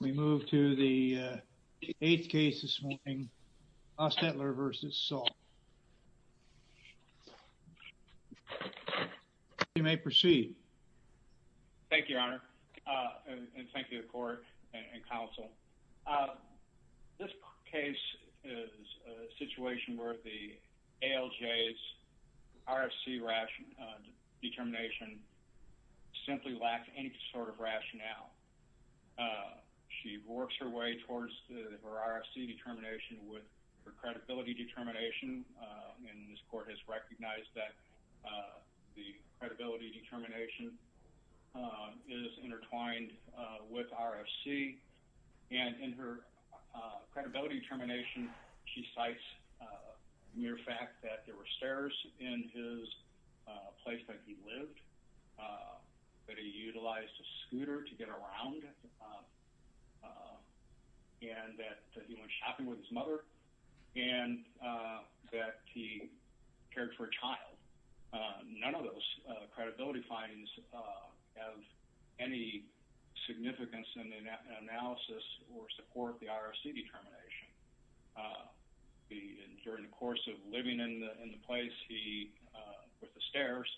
We move to the eighth case this morning, Hostettler v. Saul. You may proceed. Thank you, Your Honor, and thank you to the court and counsel. This case is a situation where the ALJ's RFC determination simply lacks any sort of rationale. She works her way towards her RFC determination with her credibility determination, and this court has recognized that the credibility determination is intertwined with RFC. And in her credibility determination, she cites mere fact that there were stairs in his place that he lived, that he utilized a scooter to get around, and that he went shopping with his mother, and that he cared for a child. None of those credibility findings have any significance in the analysis or support the with the stairs.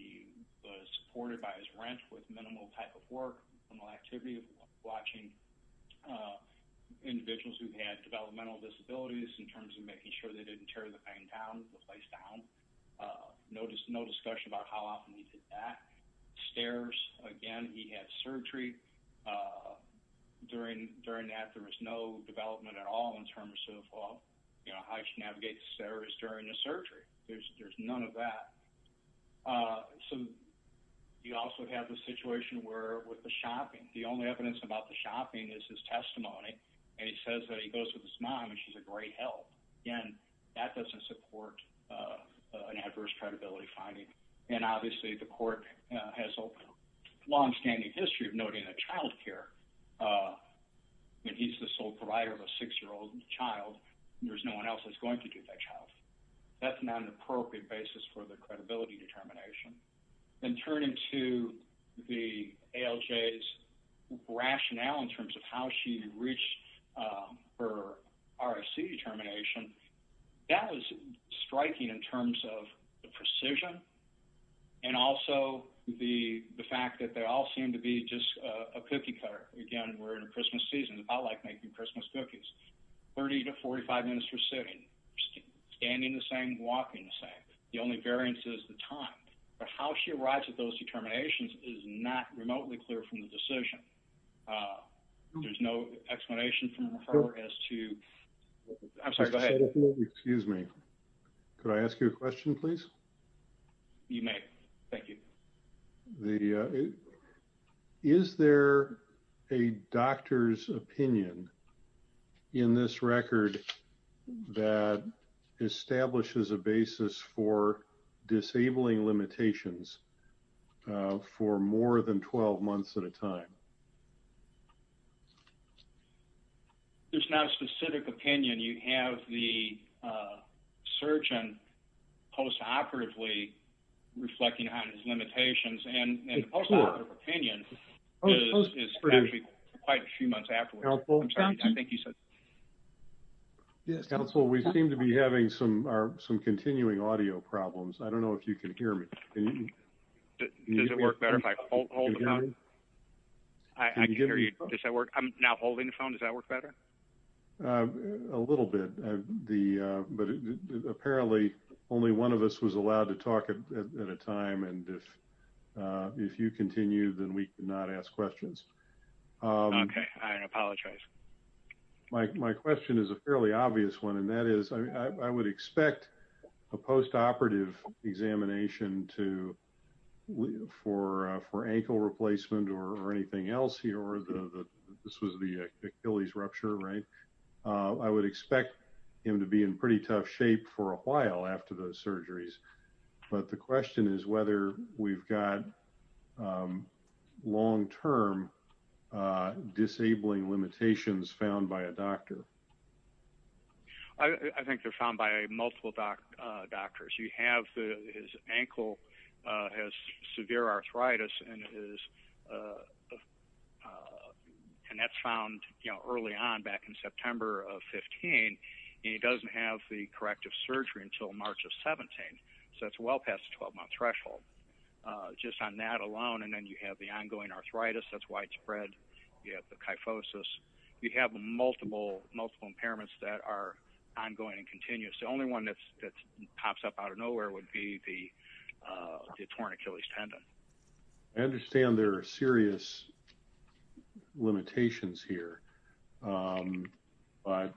He was supported by his rent with minimal type of work, minimal activity of watching individuals who had developmental disabilities in terms of making sure they didn't tear the pain down, the place down. No discussion about how often he did that. Stairs, again, he had surgery. During that, there was no development at all in terms of how he should navigate the stairs during the surgery. There's none of that. So you also have the situation where with the shopping, the only evidence about the shopping is his testimony, and he says that he goes with his mom and she's a great help. Again, that doesn't support an adverse credibility finding. And obviously, the court has a long standing history of noting that child care, when he's the sole provider of a six-year-old child, there's no one else that's going to do that child. That's not an appropriate basis for the credibility determination. And turning to the ALJ's rationale in terms of how she reached her RSC determination, that was striking in terms of the precision and also the fact that they all seem to be just a cookie cutter. Again, we're in a Christmas season. I like making Christmas cookies. 30 to 45 minutes for sitting, standing the same, walking the same. The only variance is the time. But how she arrives at those determinations is not remotely clear from the decision. There's no explanation from her as to... I'm sorry, go ahead. Just a second. Excuse me. Could I ask you a question, please? You may. Thank you. The... Is there a doctor's opinion in this record that establishes a basis for disabling limitations for more than 12 months at a time? There's not a specific opinion. You have the and the post-operative opinion is quite a few months afterwards. I'm sorry, I think you said... Yes, counsel, we seem to be having some continuing audio problems. I don't know if you can hear me. Does it work better if I hold the phone? Can you hear me? I can hear you. Does that work? I'm now holding the phone. Does that work better? A little bit. But apparently only one of us was allowed to talk at a time. And if if you continue, then we cannot ask questions. Okay, I apologize. My question is a fairly obvious one. And that is, I would expect a post-operative examination to for ankle replacement or anything else here, or the... This was the Achilles rupture, right? I would expect him to be in pretty tough shape for a while after those surgeries. But the question is whether we've got long-term disabling limitations found by a doctor. I think they're found by multiple doctors. You have his ankle has severe arthritis and his... And that's found, you know, early on back in September of 15. And he doesn't have the corrective surgery until March of 17. So that's well past the 12-month threshold. Just on that alone. And then you have the ongoing arthritis that's widespread. You have the kyphosis. You have multiple impairments that are ongoing and continuous. The only one that pops up out of nowhere would be the torn Achilles tendon. I understand there are serious limitations here. But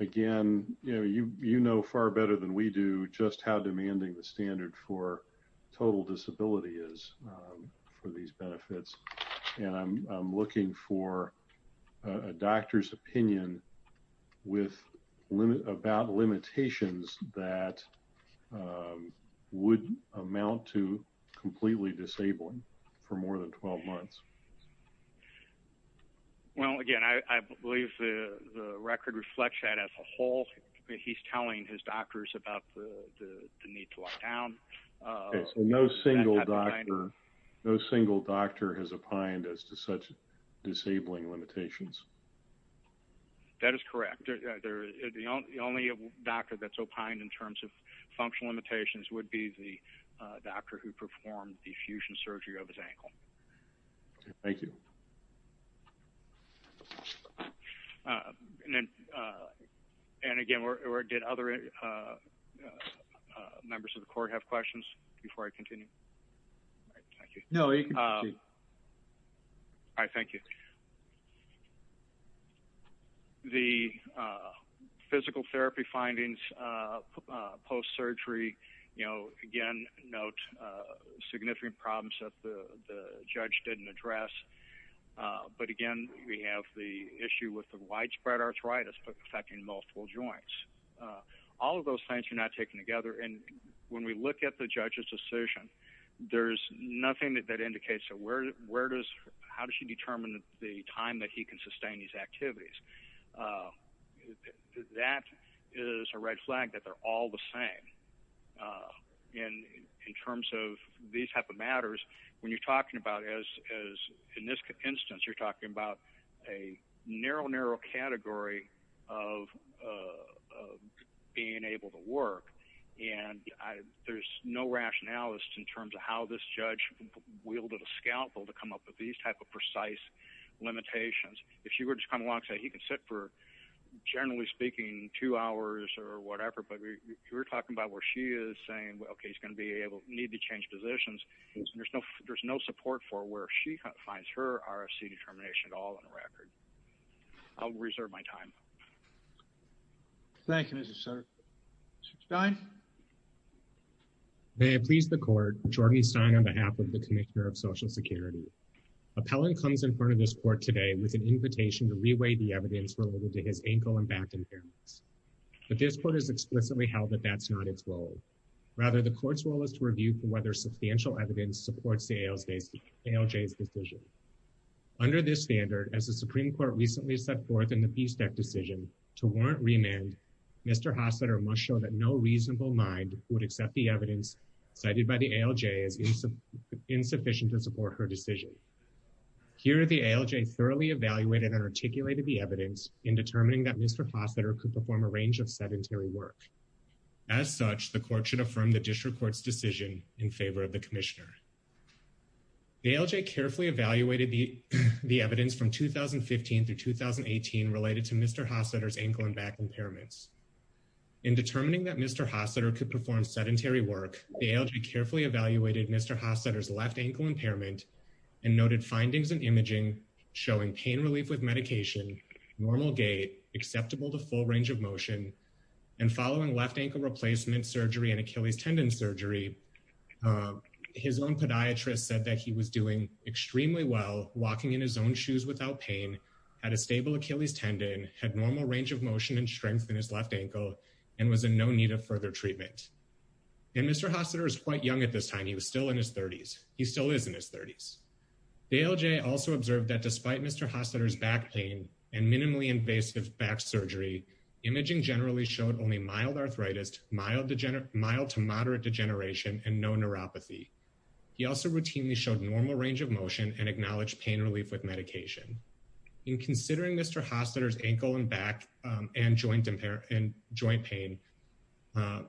again, you know far better than we do just how demanding the standard for total disability is for these benefits. And I'm looking for a doctor's opinion about limitations that would amount to completely disabling for more than 12 months. Well, again, I believe the record reflects that as a whole. He's telling his doctors about the need to lock down. No single doctor has opined as to such disabling limitations. That is correct. The only doctor that's opined in terms of functional limitations would be the doctor who performed the fusion surgery of his ankle. Thank you. And again, did other members of the court have questions before I continue? No, you can continue. All right. Thank you. The physical therapy findings post-surgery, you know, again, note significant problems that the judge didn't address. But again, we have the issue with the widespread arthritis affecting multiple joints. All of those things are not taken together. And when we look at the judge's decision, there's nothing that indicates how does she determine the time that he can sustain these activities. That is a red flag that they're all the same. In terms of these type of matters, when you're talking about as in this instance, you're talking about a narrow, narrow category of being able to work. And there's no rationalist in terms of how this judge wielded a scalpel to come up with these type of precise limitations. If she were to come along and say he can sit for, generally speaking, two hours or whatever, but you're talking about where she is saying, okay, he's going to be able to need to change positions. There's no support for where she finds her RFC determination at all on the record. I'll reserve my time. Thank you, Mr. Sir. Mr. Stein? May I please the court, Jordan Stein on behalf of the Commissioner of Social Security. Appellant comes in front of this court today with an invitation to reweigh the evidence related to his ankle and back impairments. But this court has explicitly held that that's not its role. Rather, the court's role is to review whether substantial evidence supports the ALJ's decision. Under this standard, as the Supreme Court recently set forth in the Peace Deck decision to warrant remand, Mr. Hossetter must show that no reasonable mind would accept the evidence cited by the ALJ as insufficient to support her decision. Here, the ALJ thoroughly evaluated and articulated the evidence in determining that Mr. Hossetter could perform a range of sedentary work. As such, the court should affirm the district court's decision in favor of the Commissioner. The ALJ carefully evaluated the evidence from 2015 through 2018 related to Mr. Hossetter's ankle and back impairments. In determining that Mr. Hossetter could perform sedentary work, the ALJ carefully evaluated Mr. Hossetter's left ankle impairment and noted findings and imaging showing pain relief with medication, normal gait, acceptable to full range of motion, and following left ankle replacement surgery and Achilles tendon surgery, his own podiatrist said that he was doing extremely well, walking in his own shoes without pain, had a stable Achilles tendon, had normal range of motion and strength in his left ankle, and was in no need of further treatment. And Mr. Hossetter is quite young at this time. He was still in his 30s. He still is in his 30s. The ALJ also observed that despite Mr. Hossetter's back pain and minimally invasive back surgery, imaging generally showed only mild arthritis, mild to moderate degeneration, and no neuropathy. He also routinely showed normal range of motion and acknowledged pain relief with medication. In considering Mr. Hossetter's ankle and back and joint pain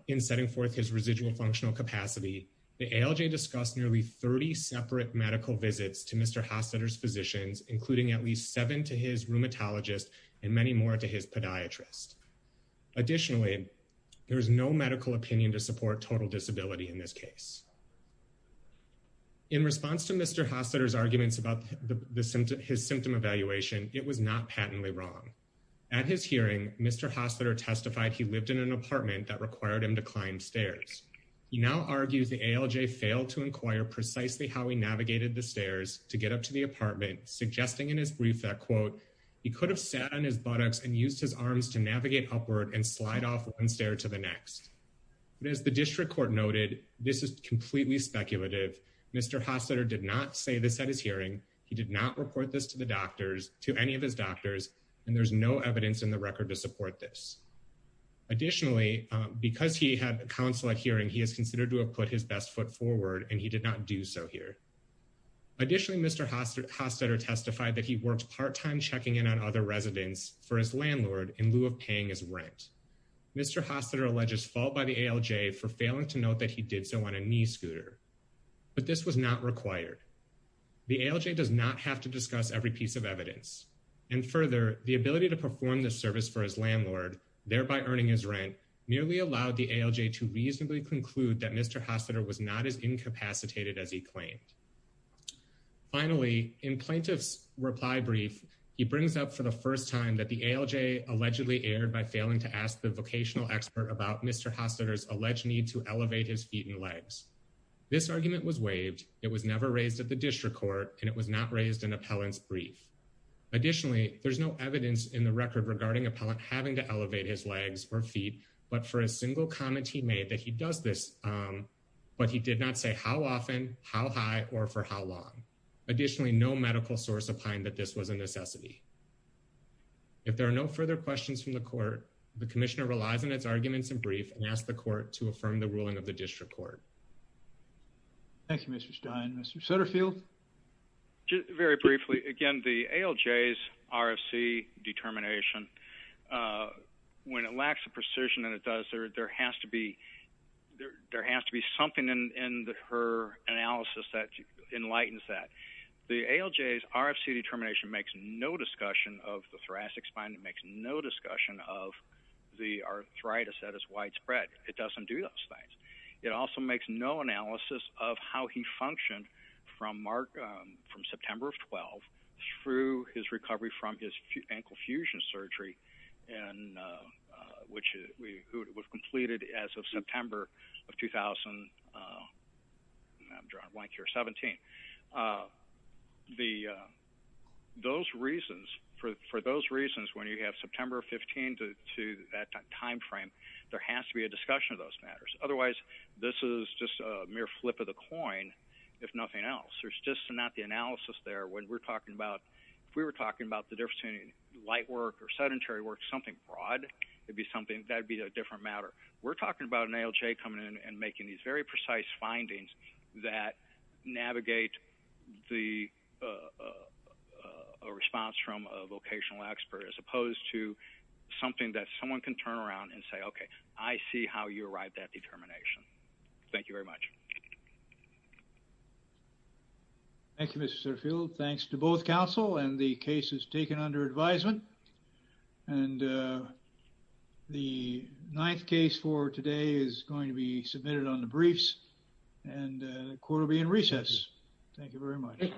in setting forth his residual functional capacity, the ALJ discussed nearly 30 separate medical visits to Mr. Hossetter's physicians, including at least seven to his rheumatologist and many more to his podiatrist. Additionally, there is no medical opinion to support total disability in this case. In response to Mr. Hossetter's arguments about his symptom evaluation, it was not patently wrong. At his hearing, Mr. Hossetter testified he lived in an apartment that required him to climb stairs. He now argues the ALJ failed to inquire precisely how he navigated the stairs to get up to the apartment, suggesting in his brief that, quote, he could have sat on his buttocks and used his arms to navigate upward and slide off one stair to the next. But as the district court noted, this is completely speculative. Mr. Hossetter did not say this at his hearing. He did not report this to the doctors, to any of his doctors, and there's no evidence in the record to support this. Additionally, because he had counsel at hearing, he is considered to have put his best foot forward, and he did not do so here. Additionally, Mr. Hossetter testified that he worked part-time checking in on other residents for his landlord in lieu of paying his rent. Mr. Hossetter alleges fault by the ALJ for failing to note that he did so on a knee scooter, but this was not required. The ALJ does not have to discuss every piece of evidence, and further, the ability to perform this service for his landlord, thereby earning his rent, merely allowed the ALJ to reasonably conclude that Mr. Hossetter was not as incapacitated as he claimed. Finally, in plaintiff's reply brief, he brings up for the first time that the ALJ allegedly erred by failing to ask the vocational expert about Mr. Hossetter's alleged need to elevate his feet and legs. This argument was waived. It was never raised at the district court, and it was not raised in appellant's brief. Additionally, there's no evidence in the record regarding appellant having to elevate his legs or feet, but for a single comment he made that he does this, but he did not say how often, how high, or for how long. Additionally, no medical source opined that this was a necessity. If there are no further questions from the court, the commissioner relies on its arguments in brief and asks the court to affirm the ruling of the district court. Thank you, Mr. Stein. Mr. Sutterfield? Just very briefly, again, the ALJ's RFC determination, when it lacks the precision it does, there has to be something in her analysis that enlightens that. The ALJ's RFC determination makes no discussion of the thoracic spine. It makes no discussion of the arthritis that is widespread. It doesn't do those things. It also makes no analysis of how he functioned from September of 12 through his recovery from his ankle fusion surgery, and which was completed as of September of 2017. Those reasons, for those reasons, when you have September 15 to that time frame, there has to be a discussion of those matters. Otherwise, this is just a mere flip of the coin, if nothing else. There's just not the analysis there. If we were talking about the difference between light work or sedentary work, something broad, that would be a different matter. We're talking about an ALJ coming in and making these very precise findings that navigate a response from a vocational expert, as opposed to something that someone can turn around and say, okay, I see how you arrived at that determination. Thank you very much. Thank you, Mr. Serfield. Thanks to both counsel and the cases taken under advisement. The ninth case for today is going to be submitted on the briefs, and the court will be in recess. Thank you very much.